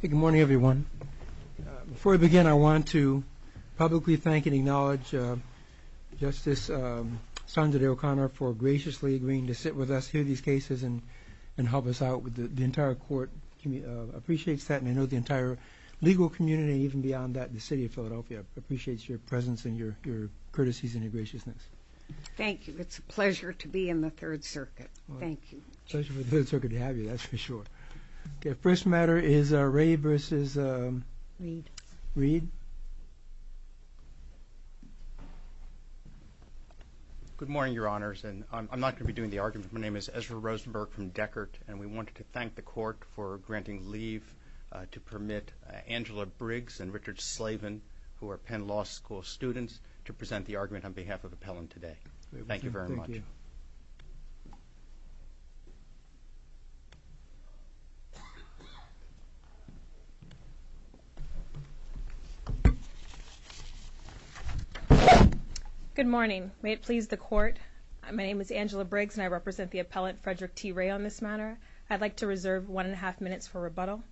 Good morning, everyone. Before we begin, I want to publicly thank and acknowledge Justice Sandra Day O'Connor for graciously agreeing to sit with us, hear these cases, and help us out. The entire court appreciates that, and I know the entire legal community, and even beyond that, the city of Philadelphia appreciates your presence and your courtesies and your graciousness. Thank you. It's a pleasure to be in the Third Circuit. Thank you. It's a pleasure for the Third Circuit to have you, that's for sure. First matter is Ray versus Reed. Good morning, Your Honors, and I'm not going to be doing the argument. My name is Ezra Rosenberg from Deckert, and we wanted to thank the court for granting leave to permit Angela Briggs and Richard Slavin, who are Penn Law School students, to present the argument on behalf of Appellant today. Thank you very much. Good morning. May it please the court, my name is Angela Briggs, and I represent the appellant, Frederick T. Ray, on this matter. I'd like to reserve one and a half minutes for rebuttal.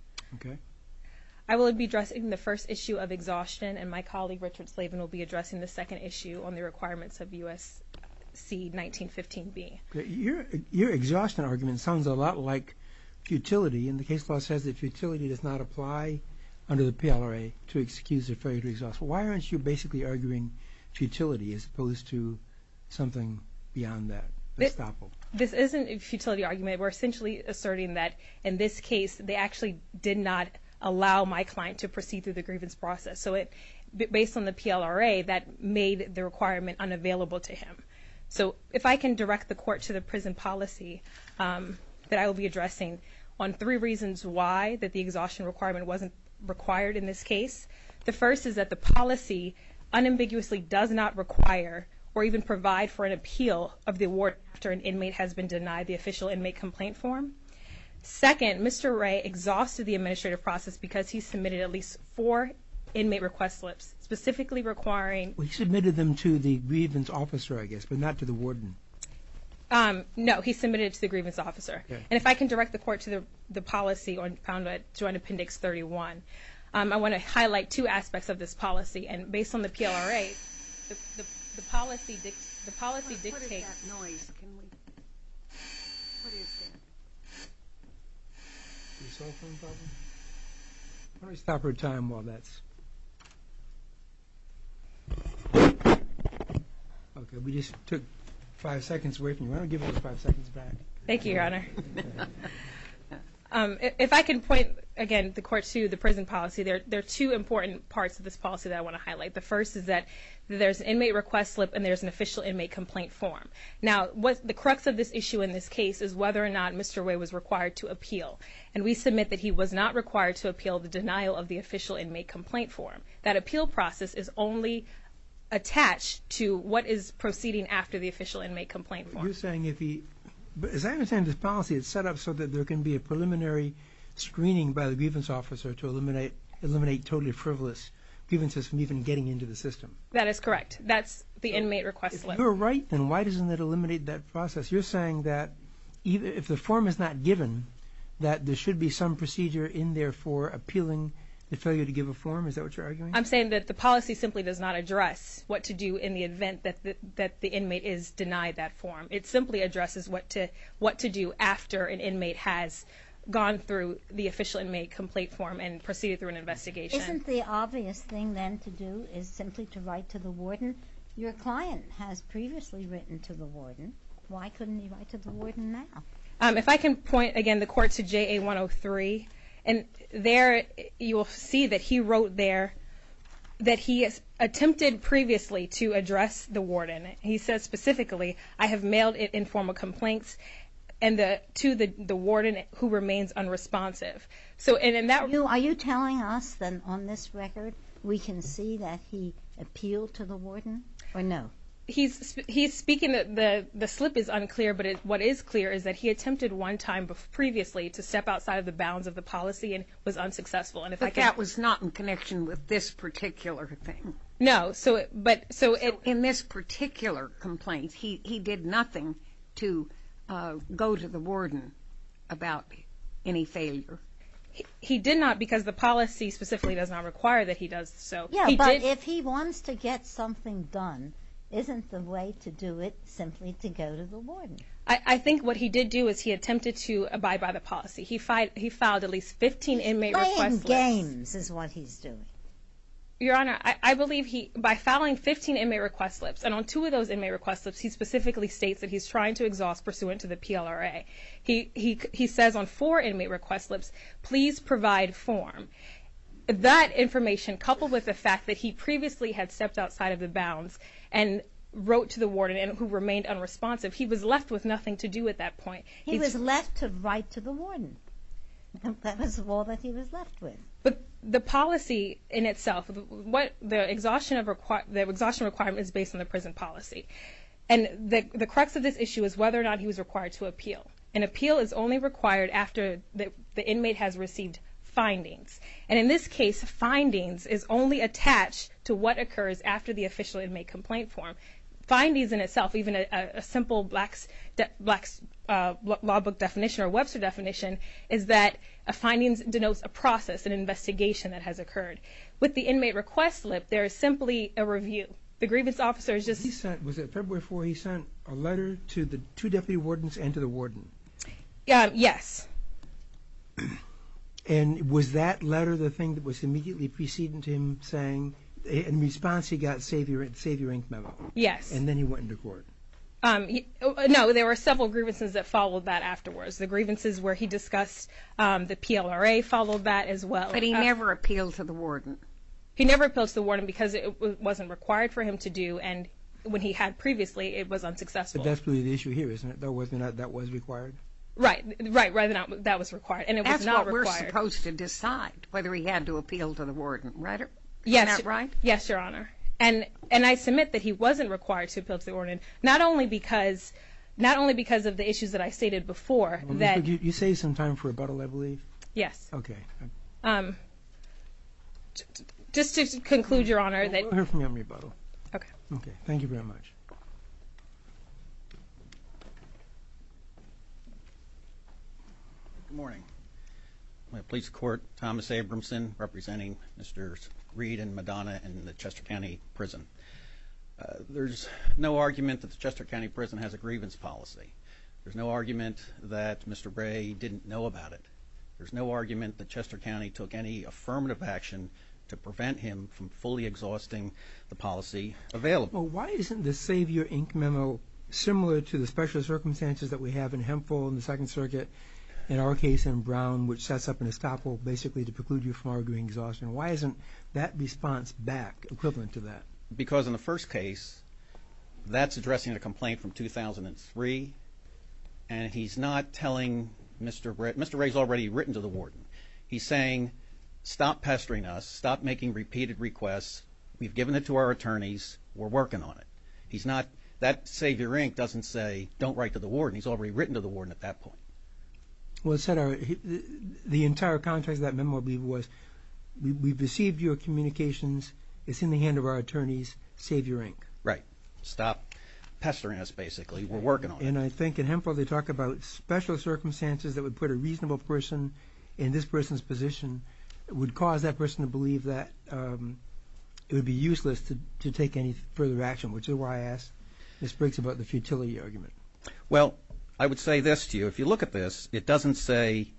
I will be addressing the first issue of exhaustion, and my colleague Richard Slavin will be addressing the second issue on the requirements of U.S.C. 1915B. Your exhaustion argument sounds a lot like futility, and the case law says that futility does not apply under the PLRA to excuse a failure to exhaust. Why aren't you basically arguing futility as opposed to something beyond that? This isn't a futility argument. We're essentially asserting that in this case, they actually did not allow my client to proceed through the grievance process. So based on the PLRA, that made the requirement unavailable to him. So if I can direct the court to the prison policy that I will be addressing on three reasons why the exhaustion requirement wasn't required in this case. The first is that the policy unambiguously does not require or even provide for an appeal of the award after an inmate has been denied the official inmate complaint form. Second, Mr. Ray exhausted the administrative process because he submitted at least four inmate request slips, specifically requiring... He submitted them to the grievance officer, I guess, but not to the warden. No, he submitted it to the grievance officer. And if I can direct the court to the policy found at Joint Appendix 31, I want to highlight two aspects of this policy. And based on the PLRA, the policy dictates... What is that noise? What is that? Your cell phone's buzzing? Why don't we stop our time while that's... Okay, we just took five seconds away from you. Why don't we give it five seconds back? Thank you, Your Honor. If I can point, again, the court to the prison policy, there are two important parts of this policy that I want to highlight. The first is that there's an inmate request slip and there's an official inmate complaint form. Now, the crux of this issue in this case is whether or not Mr. Way was required to appeal. And we submit that he was not required to appeal the denial of the official inmate complaint form. That appeal process is only attached to what is proceeding after the official inmate complaint form. You're saying if he... As I understand this policy, it's set up so that there can be a preliminary screening by the grievance officer to eliminate totally frivolous grievances from even getting into the system. That is correct. That's the inmate request slip. If you're right, then why doesn't it eliminate that process? You're saying that if the form is not given, that there should be some procedure in there for appealing the failure to give a form? Is that what you're arguing? I'm saying that the policy simply does not address what to do in the event that the inmate is denied that form. It simply addresses what to do after an inmate has gone through the official inmate complaint form and proceeded through an investigation. Isn't the obvious thing, then, to do is simply to write to the warden? Your client has previously written to the warden. Why couldn't he write to the warden now? If I can point, again, the court to JA 103, and there you will see that he wrote there that he has attempted previously to address the warden. He says specifically, I have mailed it in form of complaints to the warden who remains unresponsive. Are you telling us that on this record we can see that he appealed to the warden, or no? He's speaking that the slip is unclear, but what is clear is that he attempted one time previously to step outside of the bounds of the policy and was unsuccessful. But that was not in connection with this particular thing. No. So in this particular complaint, he did nothing to go to the warden about any failure. He did not because the policy specifically does not require that he does so. Yeah, but if he wants to get something done, isn't the way to do it simply to go to the warden? I think what he did do is he attempted to abide by the policy. He filed at least 15 inmate request slips. Playing games is what he's doing. Your Honor, I believe by filing 15 inmate request slips, and on two of those inmate request slips he specifically states that he's trying to exhaust pursuant to the PLRA. He says on four inmate request slips, please provide form. That information coupled with the fact that he previously had stepped outside of the bounds and wrote to the warden who remained unresponsive, he was left with nothing to do at that point. He was left to write to the warden. That was all that he was left with. But the policy in itself, the exhaustion requirement is based on the prison policy. And the crux of this issue is whether or not he was required to appeal. An appeal is only required after the inmate has received findings. And in this case, findings is only attached to what occurs after the official inmate complaint form. Findings in itself, even a simple Black's Law Book definition or Webster definition is that findings denotes a process, an investigation that has occurred. With the inmate request slip, there is simply a review. The grievance officer is just... Was it February 4th he sent a letter to the two deputy wardens and to the warden? Yes. And was that letter the thing that was immediately preceding to him saying in response he got a Save Your Ink memo? Yes. And then he went into court? No, there were several grievances that followed that afterwards. The grievances where he discussed the PLRA followed that as well. But he never appealed to the warden? He never appealed to the warden because it wasn't required for him to do and when he had previously, it was unsuccessful. But that's really the issue here, isn't it? Whether or not that was required? Right, right. That was required and it was not required. That's why we're supposed to decide whether he had to appeal to the warden, right? Yes. Isn't that right? Yes, Your Honor. And I submit that he wasn't required to appeal to the warden, not only because of the issues that I stated before. You saved some time for rebuttal, I believe? Yes. Okay. Just to conclude, Your Honor, that... We'll hear from you on rebuttal. Okay. Okay, thank you very much. Good morning. My police court, Thomas Abramson, representing Mr. Reed and Madonna in the Chester County Prison. There's no argument that the Chester County Prison has a grievance policy. There's no argument that Mr. Ray didn't know about it. There's no argument that Chester County took any affirmative action to prevent him from fully exhausting the policy available. Well, why isn't the Save Your Ink memo similar to the special circumstances that we have in Hemphill in the Second Circuit, in our case in Brown, which sets up an estoppel basically to preclude you from arguing exhaustion? Why isn't that response back equivalent to that? Because in the first case, that's addressing a complaint from 2003, and he's not telling Mr. Ray. Mr. Ray's already written to the warden. He's saying, stop pestering us, stop making repeated requests. We've given it to our attorneys. We're working on it. He's not... That Save Your Ink doesn't say, don't write to the warden. He's already written to the warden at that point. Well, Senator, the entire context of that memo, I believe, was we've received your communications. It's in the hand of our attorneys. Save Your Ink. Right. Stop pestering us, basically. We're working on it. And I think in Hemphill, they talk about special circumstances that would put a reasonable person in this person's position, would cause that person to believe that it would be useless to take any further action, which is why I asked Miss Briggs about the futility argument. Well, I would say this to you. If you look at this, it doesn't say,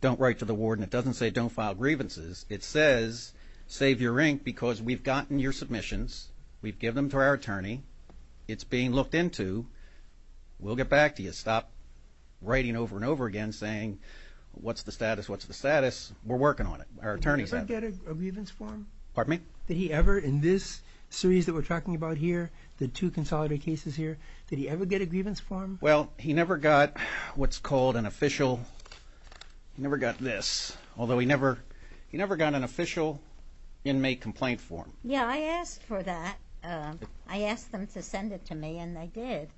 don't write to the warden. It doesn't say, don't file grievances. It says, Save Your Ink because we've gotten your submissions. We've given them to our attorney. It's being looked into. We'll get back to you. Stop writing over and over again saying, what's the status, what's the status. We're working on it. Our attorneys have. Did he ever get a grievance form? Pardon me? Did he ever in this series that we're talking about here, the two consolidated cases here, did he ever get a grievance form? Well, he never got what's called an official, he never got this, although he never got an official inmate complaint form. Yeah, I asked for that. I asked them to send it to me and they did.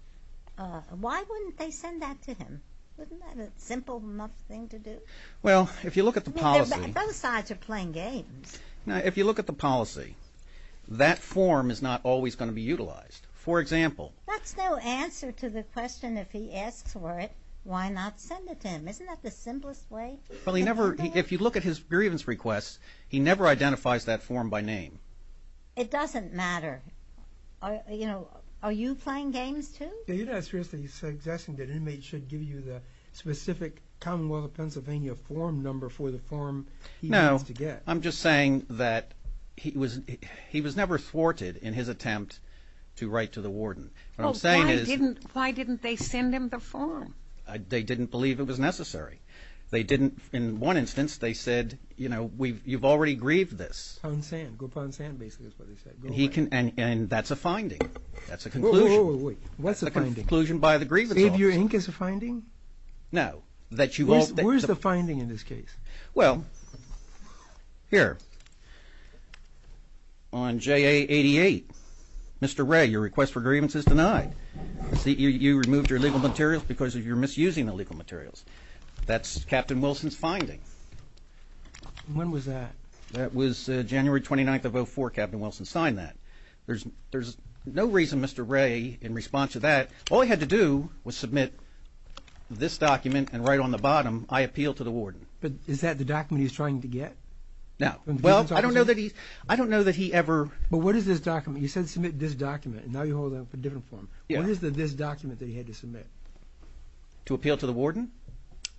Why wouldn't they send that to him? Isn't that a simple enough thing to do? Well, if you look at the policy. Both sides are playing games. Now, if you look at the policy, that form is not always going to be utilized. For example. That's no answer to the question, if he asks for it, why not send it to him? Isn't that the simplest way? If you look at his grievance requests, he never identifies that form by name. It doesn't matter. Are you playing games too? You're not seriously suggesting that inmates should give you the specific Commonwealth of Pennsylvania form number for the form he needs to get? No, I'm just saying that he was never thwarted in his attempt to write to the warden. What I'm saying is... Why didn't they send him the form? They didn't believe it was necessary. They didn't, in one instance, they said, you know, you've already grieved this. Go upon sand, basically, is what they said. That's a conclusion. Wait, wait, wait. What's a finding? That's a conclusion by the Grievance Office. Xavier Inc. is a finding? No. Where's the finding in this case? Well, here. On JA88, Mr. Ray, your request for grievance is denied. You removed your legal materials because you're misusing the legal materials. That's Captain Wilson's finding. When was that? That was January 29th of 04. Captain Wilson signed that. There's no reason Mr. Ray, in response to that, all he had to do was submit this document and write on the bottom, I appeal to the warden. But is that the document he's trying to get? No. Well, I don't know that he ever... But what is this document? You said submit this document. Now you're holding up a different form. What is this document that he had to submit? To appeal to the warden?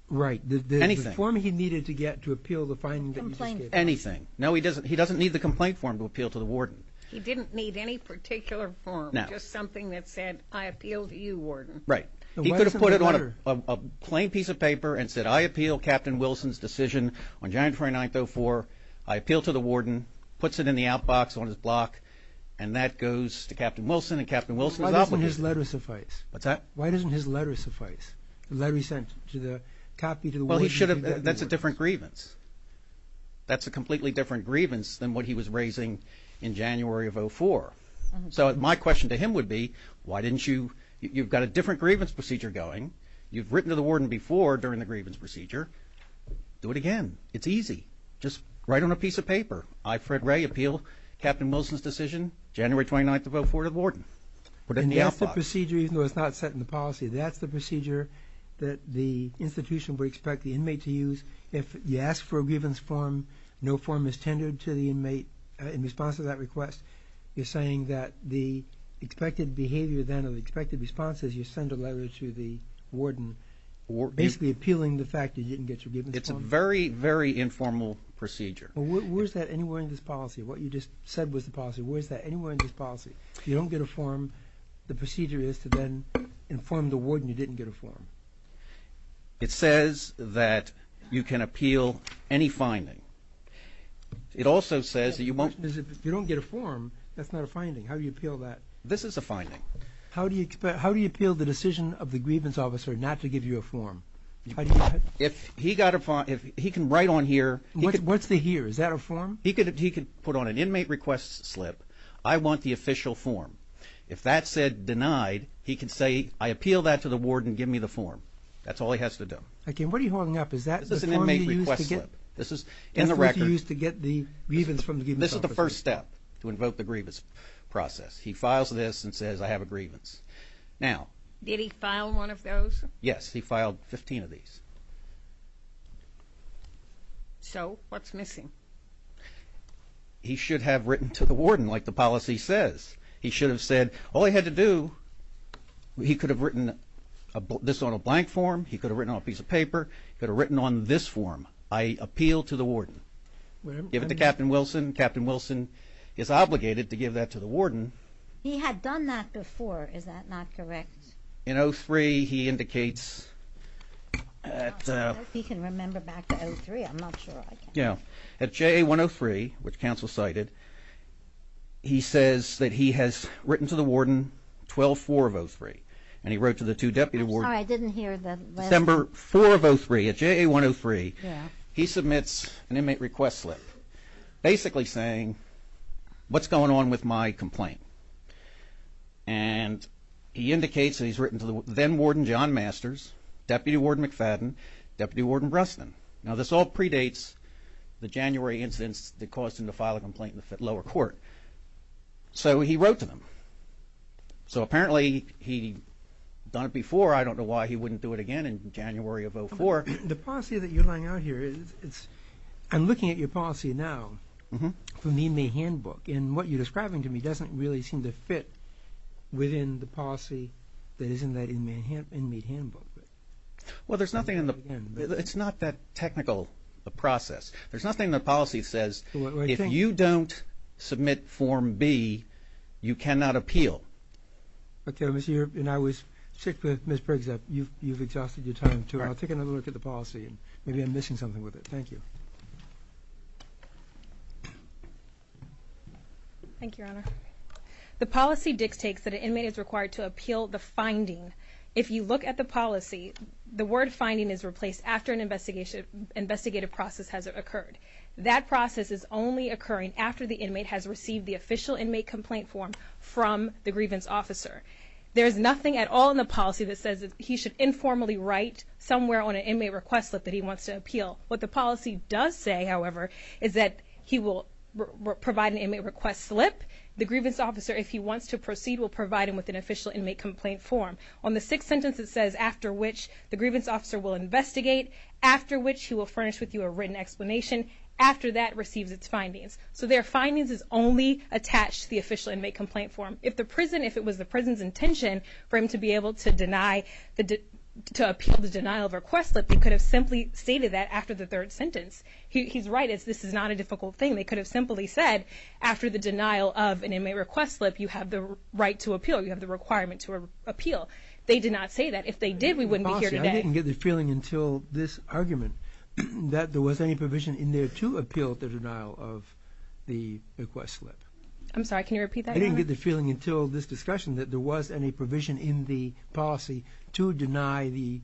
Right. Anything. The form he needed to get to appeal the finding that you just gave. Complaint form. Anything. No, he doesn't need the complaint form to appeal to the warden. He didn't need any particular form. Just something that said, I appeal to you, warden. Right. He could have put it on a plain piece of paper and said, I appeal Captain Wilson's decision on January 29th, 04. I appeal to the warden. Puts it in the outbox on his block. And that goes to Captain Wilson and Captain Wilson's office. Why doesn't his letter suffice? What's that? Why doesn't his letter suffice? The letter he sent, the copy to the warden... Well, he should have... That's a different grievance. That's a completely different grievance than what he was raising in January of 04. So my question to him would be, why didn't you... You've got a different grievance procedure going. You've written to the warden before during the grievance procedure. Do it again. It's easy. Just write on a piece of paper. I, Fred Ray, appeal Captain Wilson's decision January 29th, 04 to the warden. Put it in the outbox. And that's the procedure even though it's not set in the policy. That's the procedure that the institution would expect the inmate to use if you ask for a grievance form, no form is tendered to the inmate in response to that request. You're saying that the expected behavior then or the expected response is you send a letter to the warden basically appealing the fact that you didn't get your grievance form? It's a very, very informal procedure. Well, where's that anywhere in this policy? What you just said was the policy. Where's that anywhere in this policy? If you don't get a form, the procedure is to then inform the warden you didn't get a form. It says that you can appeal any finding. It also says that you won't... That's not a finding. How do you appeal that? This is a finding. How do you appeal the decision of the grievance officer not to give you a form? If he can write on here... What's the here? Is that a form? He can put on an inmate request slip, I want the official form. If that's said denied, he can say I appeal that to the warden, give me the form. That's all he has to do. Okay, and what are you holding up? Is that the form you used to get? This is an inmate request slip. This is in the record. This is the form you used to get the grievance from the grievance officer. This is the first step to invoke the grievance process. He files this and says I have a grievance. Now... Did he file one of those? Yes, he filed 15 of these. So, what's missing? He should have written to the warden like the policy says. He should have said all he had to do, he could have written this on a blank form, he could have written on a piece of paper, he could have written on this form. I appeal to the warden. Give it to Captain Wilson. Captain Wilson is obligated to give that to the warden. He had done that before. Is that not correct? In 03, he indicates... I don't know if he can remember back to 03. I'm not sure. Yeah, at JA 103, which counsel cited, he says that he has written to the warden 12-4 of 03, and he wrote to the two deputy wardens... I'm sorry, I didn't hear the... December 4 of 03 at JA 103, he submits an inmate request slip, basically saying, what's going on with my complaint? And he indicates that he's written to the then warden John Masters, Deputy Warden McFadden, Deputy Warden Bresnan. Now, this all predates the January instance that caused him to file a complaint in the lower court. So, he wrote to them. So, apparently, he'd done it before. I don't know why he wouldn't do it again in January of 04. The policy that you're laying out here is... I'm looking at your policy now, from the inmate handbook, and what you're describing to me doesn't really seem to fit within the policy that is in that inmate handbook. Well, there's nothing in the... It's not that technical a process. There's nothing in the policy that says, if you don't submit Form B, you cannot appeal. Okay, and I was sick with Ms. Briggs. You've exhausted your time, too. I'll take another look at the policy, and maybe I'm missing something with it. Thank you. Thank you, Your Honor. The policy dictates that an inmate is required to appeal the finding. If you look at the policy, the word finding is replaced after an investigative process has occurred. That process is only occurring after the inmate has received the official inmate complaint form from the grievance officer. There is nothing at all in the policy that says that he should informally write somewhere on an inmate request slip that he wants to appeal. What the policy does say, however, is that he will provide an inmate request slip. The grievance officer, if he wants to proceed, will provide him with an official inmate complaint form. On the sixth sentence, it says, after which the grievance officer will investigate, after which he will furnish with you a written explanation. After that, receives its findings. So their findings is only attached to the official inmate complaint form. If the prison, if it was the prison's intention for him to be able to deny, to appeal the denial of request slip, they could have simply stated that after the third sentence. He's right. This is not a difficult thing. They could have simply said, after the denial of an inmate request slip, you have the right to appeal. You have the requirement to appeal. They did not say that. If they did, we wouldn't be here today. I didn't get the feeling until this argument that there was any provision in there to appeal the denial of the request slip. I'm sorry, can you repeat that? I didn't get the feeling until this discussion that there was any provision in the policy to deny the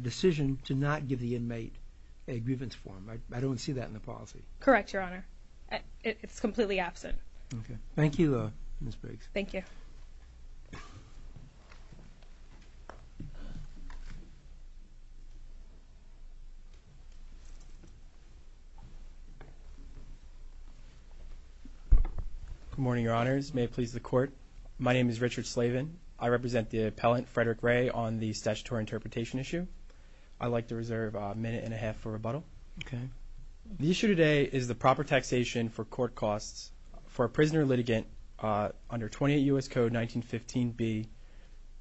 decision to not give the inmate a grievance form. I don't see that in the policy. Correct, Your Honor. It's completely absent. Okay. Thank you, Ms. Briggs. Thank you. Good morning, Your Honors. May it please the Court. My name is Richard Slavin. I represent the appellant, Frederick Ray, on the statutory interpretation issue. I'd like to reserve a minute and a half for rebuttal. Okay. The issue today is the proper taxation for court costs for a prisoner litigant under 28 U.S. Code 1915b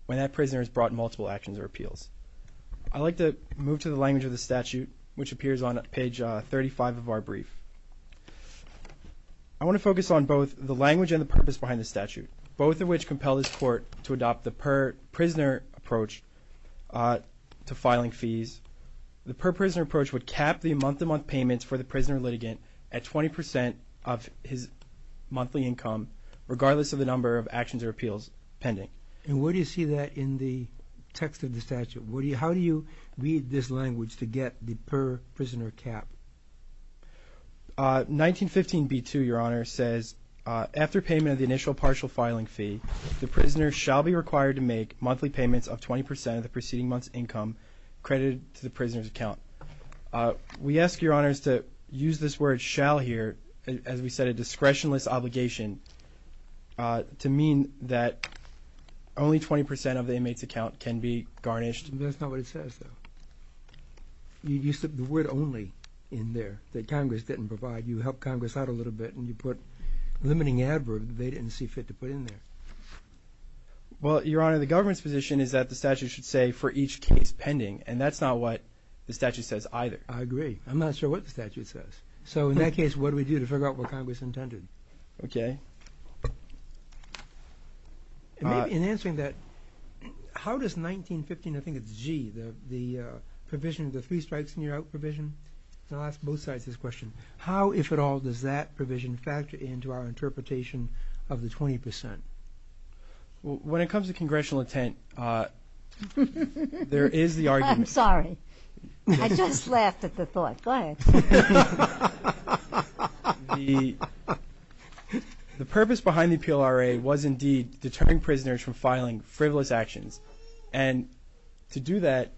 when that prisoner has brought multiple actions or appeals. I'd like to move to the language of the statute, which appears on page 35 of our brief. I want to focus on both the language and the purpose behind the statute, both of which compel this Court to adopt the per-prisoner approach to filing fees. The per-prisoner approach would cap the month-to-month payments for the prisoner litigant at 20% of his monthly income, regardless of the number of actions or appeals pending. And where do you see that in the text of the statute? How do you read this language to get the per-prisoner cap? 1915b-2, Your Honor, says, after payment of the initial partial filing fee, the prisoner shall be required to make monthly payments of 20% of the preceding month's income credited to the prisoner's account. We ask, Your Honors, to use this word, shall, here, as we said, a discretionless obligation to mean that only 20% of the inmate's account can be garnished. That's not what it says, though. You slip the word only in there that Congress didn't provide. You help Congress out a little bit, and you put a limiting adverb that they didn't see fit to put in there. Well, Your Honor, the government's position is that the statute should say, for each case pending, and that's not what the statute says either. I agree. I'm not sure what the statute says. So in that case, what do we do to figure out what Congress intended? Okay. In answering that, how does 1915, I think it's G, the provision, the three strikes and you're out provision, and I'll ask both sides this question. How, if at all, does that provision factor into our interpretation of the 20%? When it comes to congressional intent, there is the argument. I'm sorry. I just laughed at the thought. Go ahead. The purpose behind the PLRA was indeed deterring prisoners from filing frivolous actions, and to do that,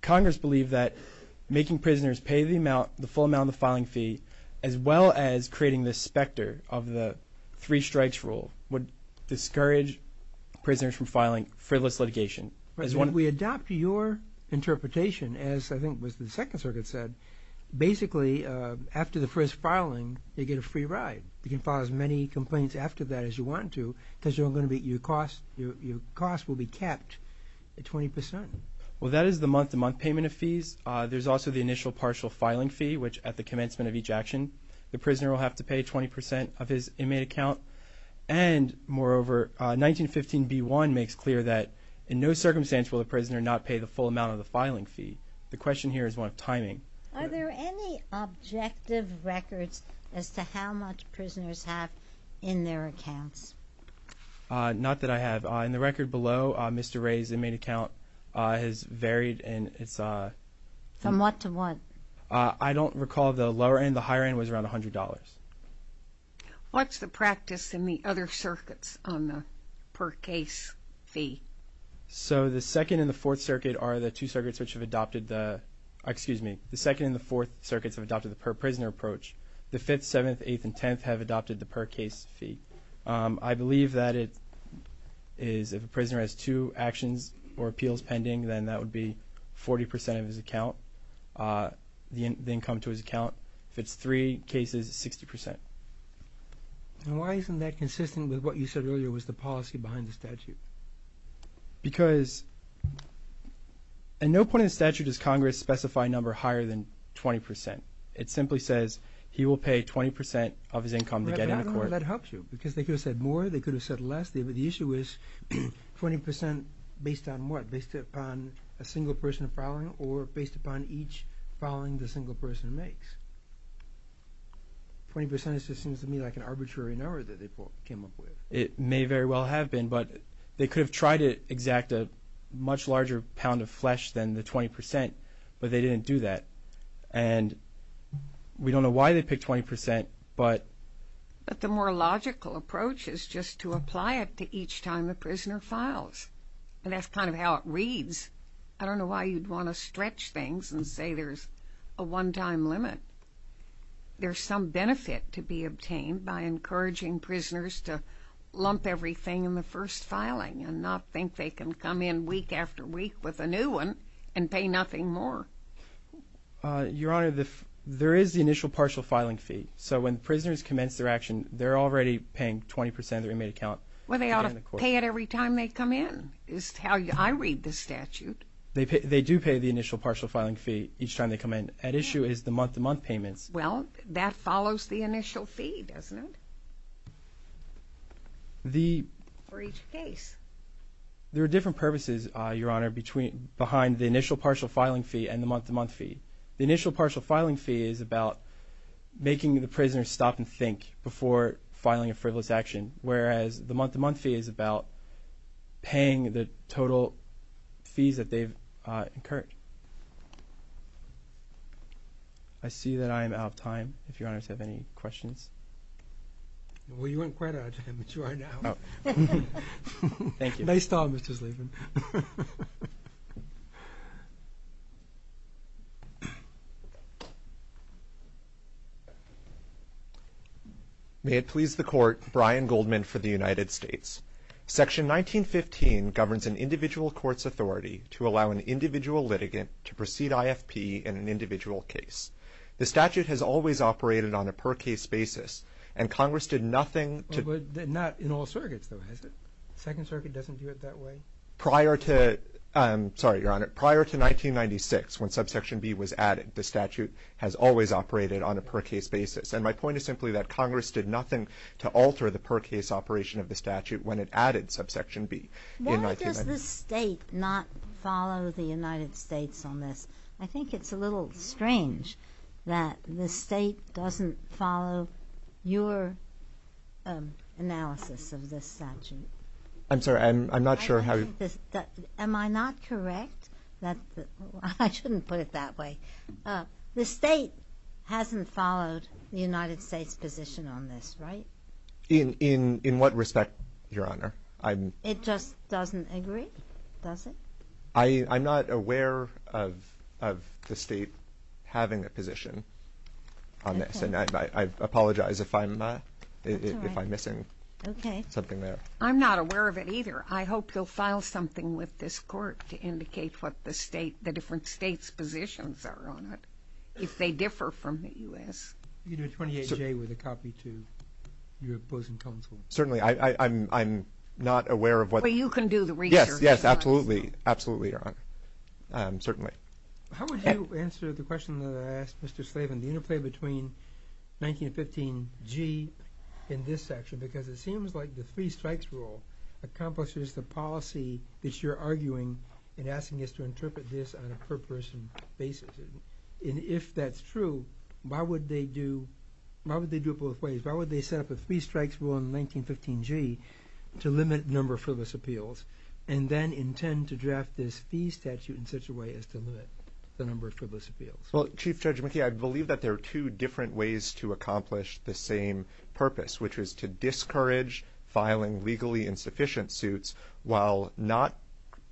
Congress believed that making prisoners pay the full amount of the filing fee as well as creating this specter of the three strikes rule would discourage prisoners from filing frivolous litigation. If we adopt your interpretation, as I think was the Second Circuit said, basically, after the first filing, you get a free ride. You can file as many complaints after that as you want to because your cost will be kept at 20%. Well, that is the month-to-month payment of fees. There's also the initial partial filing fee, which at the commencement of each action, the prisoner will have to pay 20% of his inmate account, and moreover, 1915b1 makes clear that in no circumstance will the prisoner not pay the full amount of the filing fee. The question here is one of timing. Are there any objective records as to how much prisoners have in their accounts? Not that I have. In the record below, Mr. Ray's inmate account has varied, and it's... From what to what? I don't recall the lower end. The higher end was around $100. What's the practice in the other circuits on the per case fee? So the Second and the Fourth Circuit are the two circuits which have adopted the... Excuse me. The Second and the Fourth Circuits have adopted the per prisoner approach. The Fifth, Seventh, Eighth, and Tenth have adopted the per case fee. I believe that it is... If a prisoner has two actions or appeals pending, then that would be 40% of his account, the income to his account. If it's three cases, it's 60%. And why isn't that consistent with what you said earlier was the policy behind the statute? Because... At no point in the statute does Congress specify a number higher than 20%. It simply says he will pay 20% of his income to get into court. I don't know how that helps you because they could have said more, they could have said less. The issue is 20% based on what? Based upon a single person filing or based upon each filing the single person makes? 20% just seems to me like an arbitrary number that they came up with. It may very well have been, but they could have tried to exact a much larger pound of flesh than the 20%, but they didn't do that. And we don't know why they picked 20%, but... But the more logical approach is just to apply it to each time the prisoner files. And that's kind of how it reads. I don't know why you'd want to stretch things and say there's a one-time limit. There's some benefit to be obtained by encouraging prisoners to lump everything in the first filing and not think they can come in week after week with a new one and pay nothing more. Your Honor, there is the initial partial filing fee. So when prisoners commence their action, they're already paying 20% of their inmate account. Well, they ought to pay it every time they come in is how I read the statute. They do pay the initial partial filing fee each time they come in. At issue is the month-to-month payments. Well, that follows the initial fee, doesn't it, for each case? There are different purposes, Your Honor, behind the initial partial filing fee and the month-to-month fee. The initial partial filing fee is about making the prisoner stop and think before filing a frivolous action, whereas the month-to-month fee is about paying the total fees that they've incurred. I see that I am out of time, if Your Honor has any questions. Well, you weren't quite out of time, but you are now. Thank you. Nice job, Mr. Slaven. May it please the Court, Brian Goldman for the United States. Section 1915 governs an individual court's authority to allow an individual litigant to proceed IFP in an individual case. The statute has always operated on a per-case basis, and Congress did nothing to Well, but not in all surrogates, though, has it? The Second Circuit doesn't do it that way. Prior to 1996, when Subsection B was added, the statute has always operated on a per-case basis, and my point is simply that Congress did nothing to alter the per-case operation of the statute when it added Subsection B in 1996. Why does the State not follow the United States on this? I think it's a little strange that the State doesn't follow your analysis of this statute. I'm sorry, I'm not sure how you Am I not correct? I shouldn't put it that way. The State hasn't followed the United States' position on this, right? In what respect, Your Honor? It just doesn't agree, does it? I'm not aware of the State having a position on this, and I apologize if I'm missing something there. I'm not aware of it either. I hope you'll file something with this Court to indicate what the different States' positions are on it, if they differ from the U.S. You can do a 28-J with a copy to your opposing counsel. Certainly, I'm not aware of what Well, you can do the research, Your Honor. Yes, yes, absolutely, absolutely, Your Honor, certainly. How would you answer the question that I asked Mr. Slavin, the interplay between 19 and 15-G in this section, because it seems like the three-strikes rule accomplishes the policy that you're arguing in asking us to interpret this on a per-person basis. And if that's true, why would they do it both ways? Why would they set up a three-strikes rule in 1915-G to limit the number of frivolous appeals and then intend to draft this fee statute in such a way as to limit the number of frivolous appeals? Well, Chief Judge McKee, I believe that there are two different ways to accomplish the same purpose, which is to discourage filing legally insufficient suits while not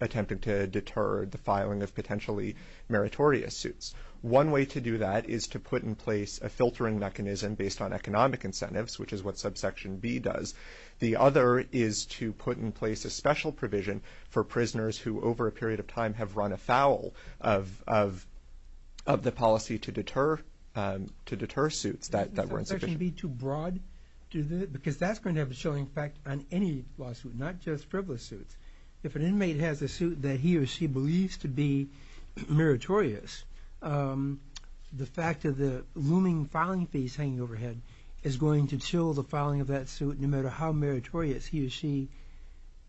attempting to deter the filing of potentially meritorious suits. One way to do that is to put in place a filtering mechanism based on economic incentives, which is what subsection B does. The other is to put in place a special provision for prisoners who, over a period of time, have run afoul of the policy to deter suits that were insufficient. Because that's going to have a showing effect on any lawsuit, not just frivolous suits. If an inmate has a suit that he or she believes to be meritorious, the fact of the looming filing fees hanging overhead is going to chill the filing of that suit, no matter how meritorious he or she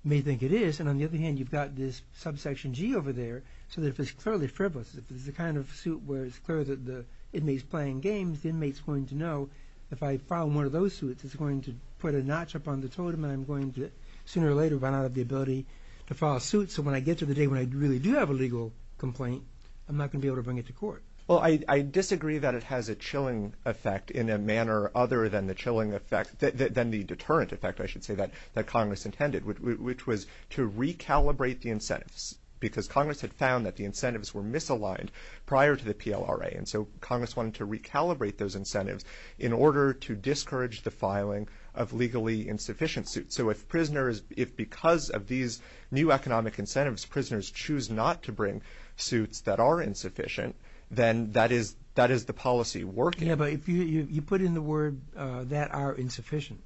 may think it is. And on the other hand, you've got this subsection G over there, so that if it's clearly frivolous, if it's the kind of suit where it's clear that the inmate's playing games, the inmate's going to know, if I file more of those suits, it's going to put a notch up on the totem and I'm going to sooner or later run out of the ability to file a suit. So when I get to the day when I really do have a legal complaint, I'm not going to be able to bring it to court. Well, I disagree that it has a chilling effect in a manner other than the chilling effect, than the deterrent effect, I should say, that Congress intended, which was to recalibrate the incentives, because Congress had found that the incentives were misaligned prior to the PLRA. And so Congress wanted to recalibrate those incentives in order to discourage the filing of legally insufficient suits. So if prisoners, if because of these new economic incentives, prisoners choose not to bring suits that are insufficient, then that is the policy working. Yeah, but if you put in the word that are insufficient,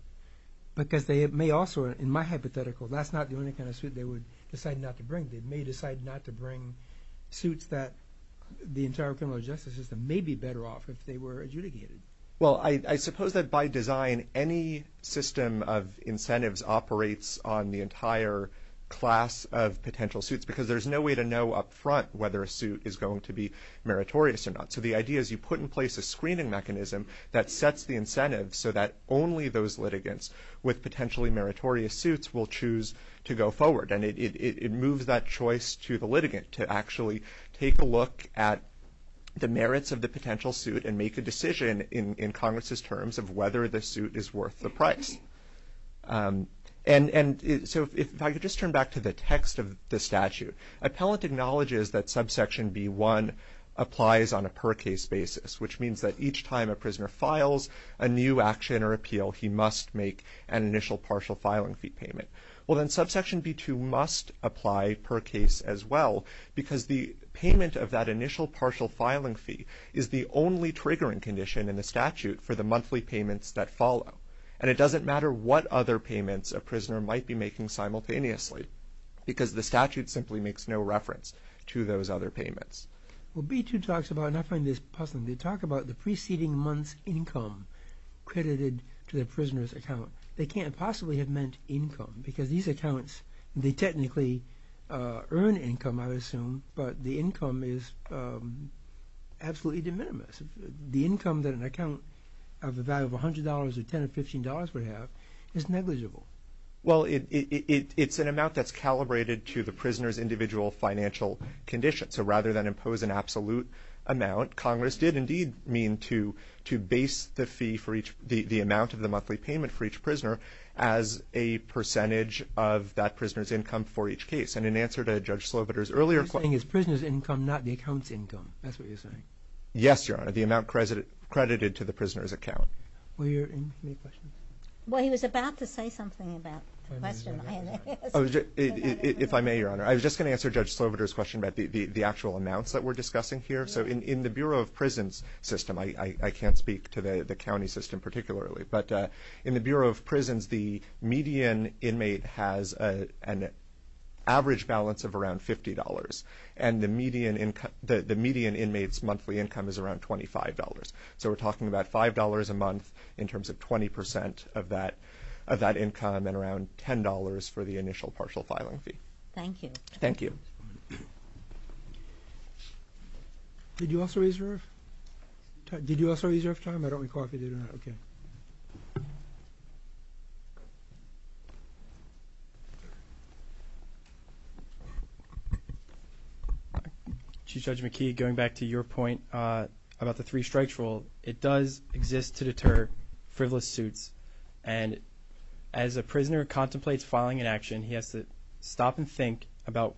because they may also, in my hypothetical, that's not the only kind of suit they would decide not to bring. They may decide not to bring suits that the entire criminal justice system may be better off if they were adjudicated. Well, I suppose that by design, any system of incentives operates on the entire class of potential suits, because there's no way to know up front whether a suit is going to be meritorious or not. So the idea is you put in place a screening mechanism that sets the incentives so that only those litigants with potentially meritorious suits will choose to go forward. And it moves that choice to the litigant to actually take a look at the merits of the potential suit and make a decision in Congress's terms of whether the suit is worth the price. And so if I could just turn back to the text of the statute. Appellant acknowledges that subsection B1 applies on a per case basis, which means that each time a prisoner files a new action or appeal, he must make an initial partial filing fee payment. Well, then subsection B2 must apply per case as well, because the payment of that initial partial filing fee is the only triggering condition in the statute for the monthly payments that follow. And it doesn't matter what other payments a prisoner might be making simultaneously, because the statute simply makes no reference to those other payments. Well, B2 talks about, and I find this puzzling, they talk about the preceding month's income credited to the prisoner's account. They can't possibly have meant income, because these accounts, they technically earn income, I would assume, but the income is absolutely de minimis. The income that an account of the value of $100 or $10 or $15 would have is negligible. Well, it's an amount that's calibrated to the prisoner's individual financial condition. So rather than impose an absolute amount, Congress did indeed mean to base the amount of the monthly payment for each prisoner as a percentage of that prisoner's income for each case. And in answer to Judge Sloviter's earlier question... You're saying it's the prisoner's income, not the account's income. That's what you're saying. Yes, Your Honor, the amount credited to the prisoner's account. Were there any questions? Well, he was about to say something about the question. If I may, Your Honor, I was just going to answer Judge Sloviter's question about the actual amounts that we're discussing here. So in the Bureau of Prisons system, I can't speak to the county system particularly, but in the Bureau of Prisons, the median inmate has an average balance of around $50, and the median inmate's monthly income is around $25. So we're talking about $5 a month in terms of 20% of that income and around $10 for the initial partial filing fee. Thank you. Thank you. Did you also, Ezra? Did you also, Ezra, have time? I don't recall if you did or not. Okay. Chief Judge McKee, going back to your point about the three-strikes rule, it does exist to deter frivolous suits, and as a prisoner contemplates filing an action, he has to stop and think about,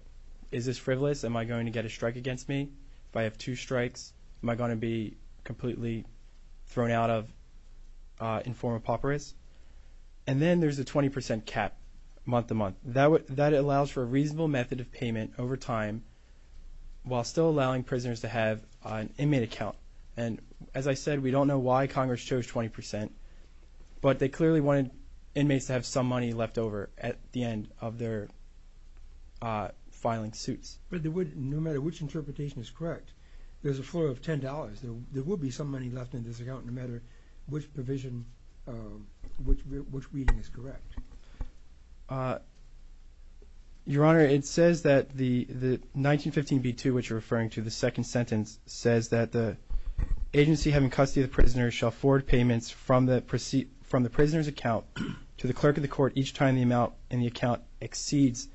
is this frivolous? Am I going to get a strike against me? If I have two strikes, am I going to be completely thrown out of informal papyrus? And then there's a 20% cap month-to-month. That allows for a reasonable method of payment over time while still allowing prisoners to have an inmate account. And as I said, we don't know why Congress chose 20%, but they clearly wanted inmates to have some money left over at the end of their filing suits. But no matter which interpretation is correct, there's a flow of $10. There will be some money left in this account no matter which provision, which reading is correct. Your Honor, it says that the 1915b-2, which you're referring to, the second sentence, says that the agency having custody of the prisoner shall forward payments from the prisoner's account to the clerk of the court each time the amount in the account exceeds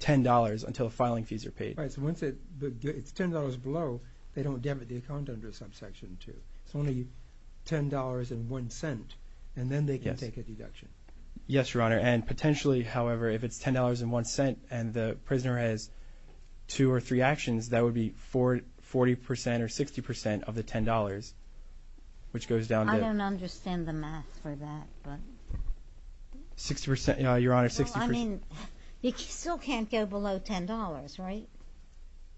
$10 until filing fees are paid. Right, so once it's $10 below, they don't debit the account under subsection 2. It's only $10.01, and then they can take a deduction. Yes, Your Honor. And potentially, however, if it's $10.01 and the prisoner has two or three actions, that would be 40% or 60% of the $10, which goes down to... I don't understand the math for that, but... 60%? Your Honor, 60%... Well, I mean, you still can't go below $10, right?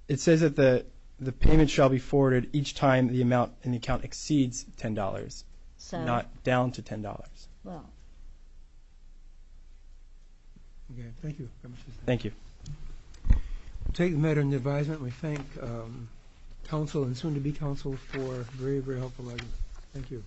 It says that the payment shall be forwarded each time the amount in the account exceeds $10, not down to $10. Well... Okay, thank you very much. Thank you. We'll take the matter into advisement. We thank counsel and soon-to-be counsel for a very, very helpful argument. Thank you.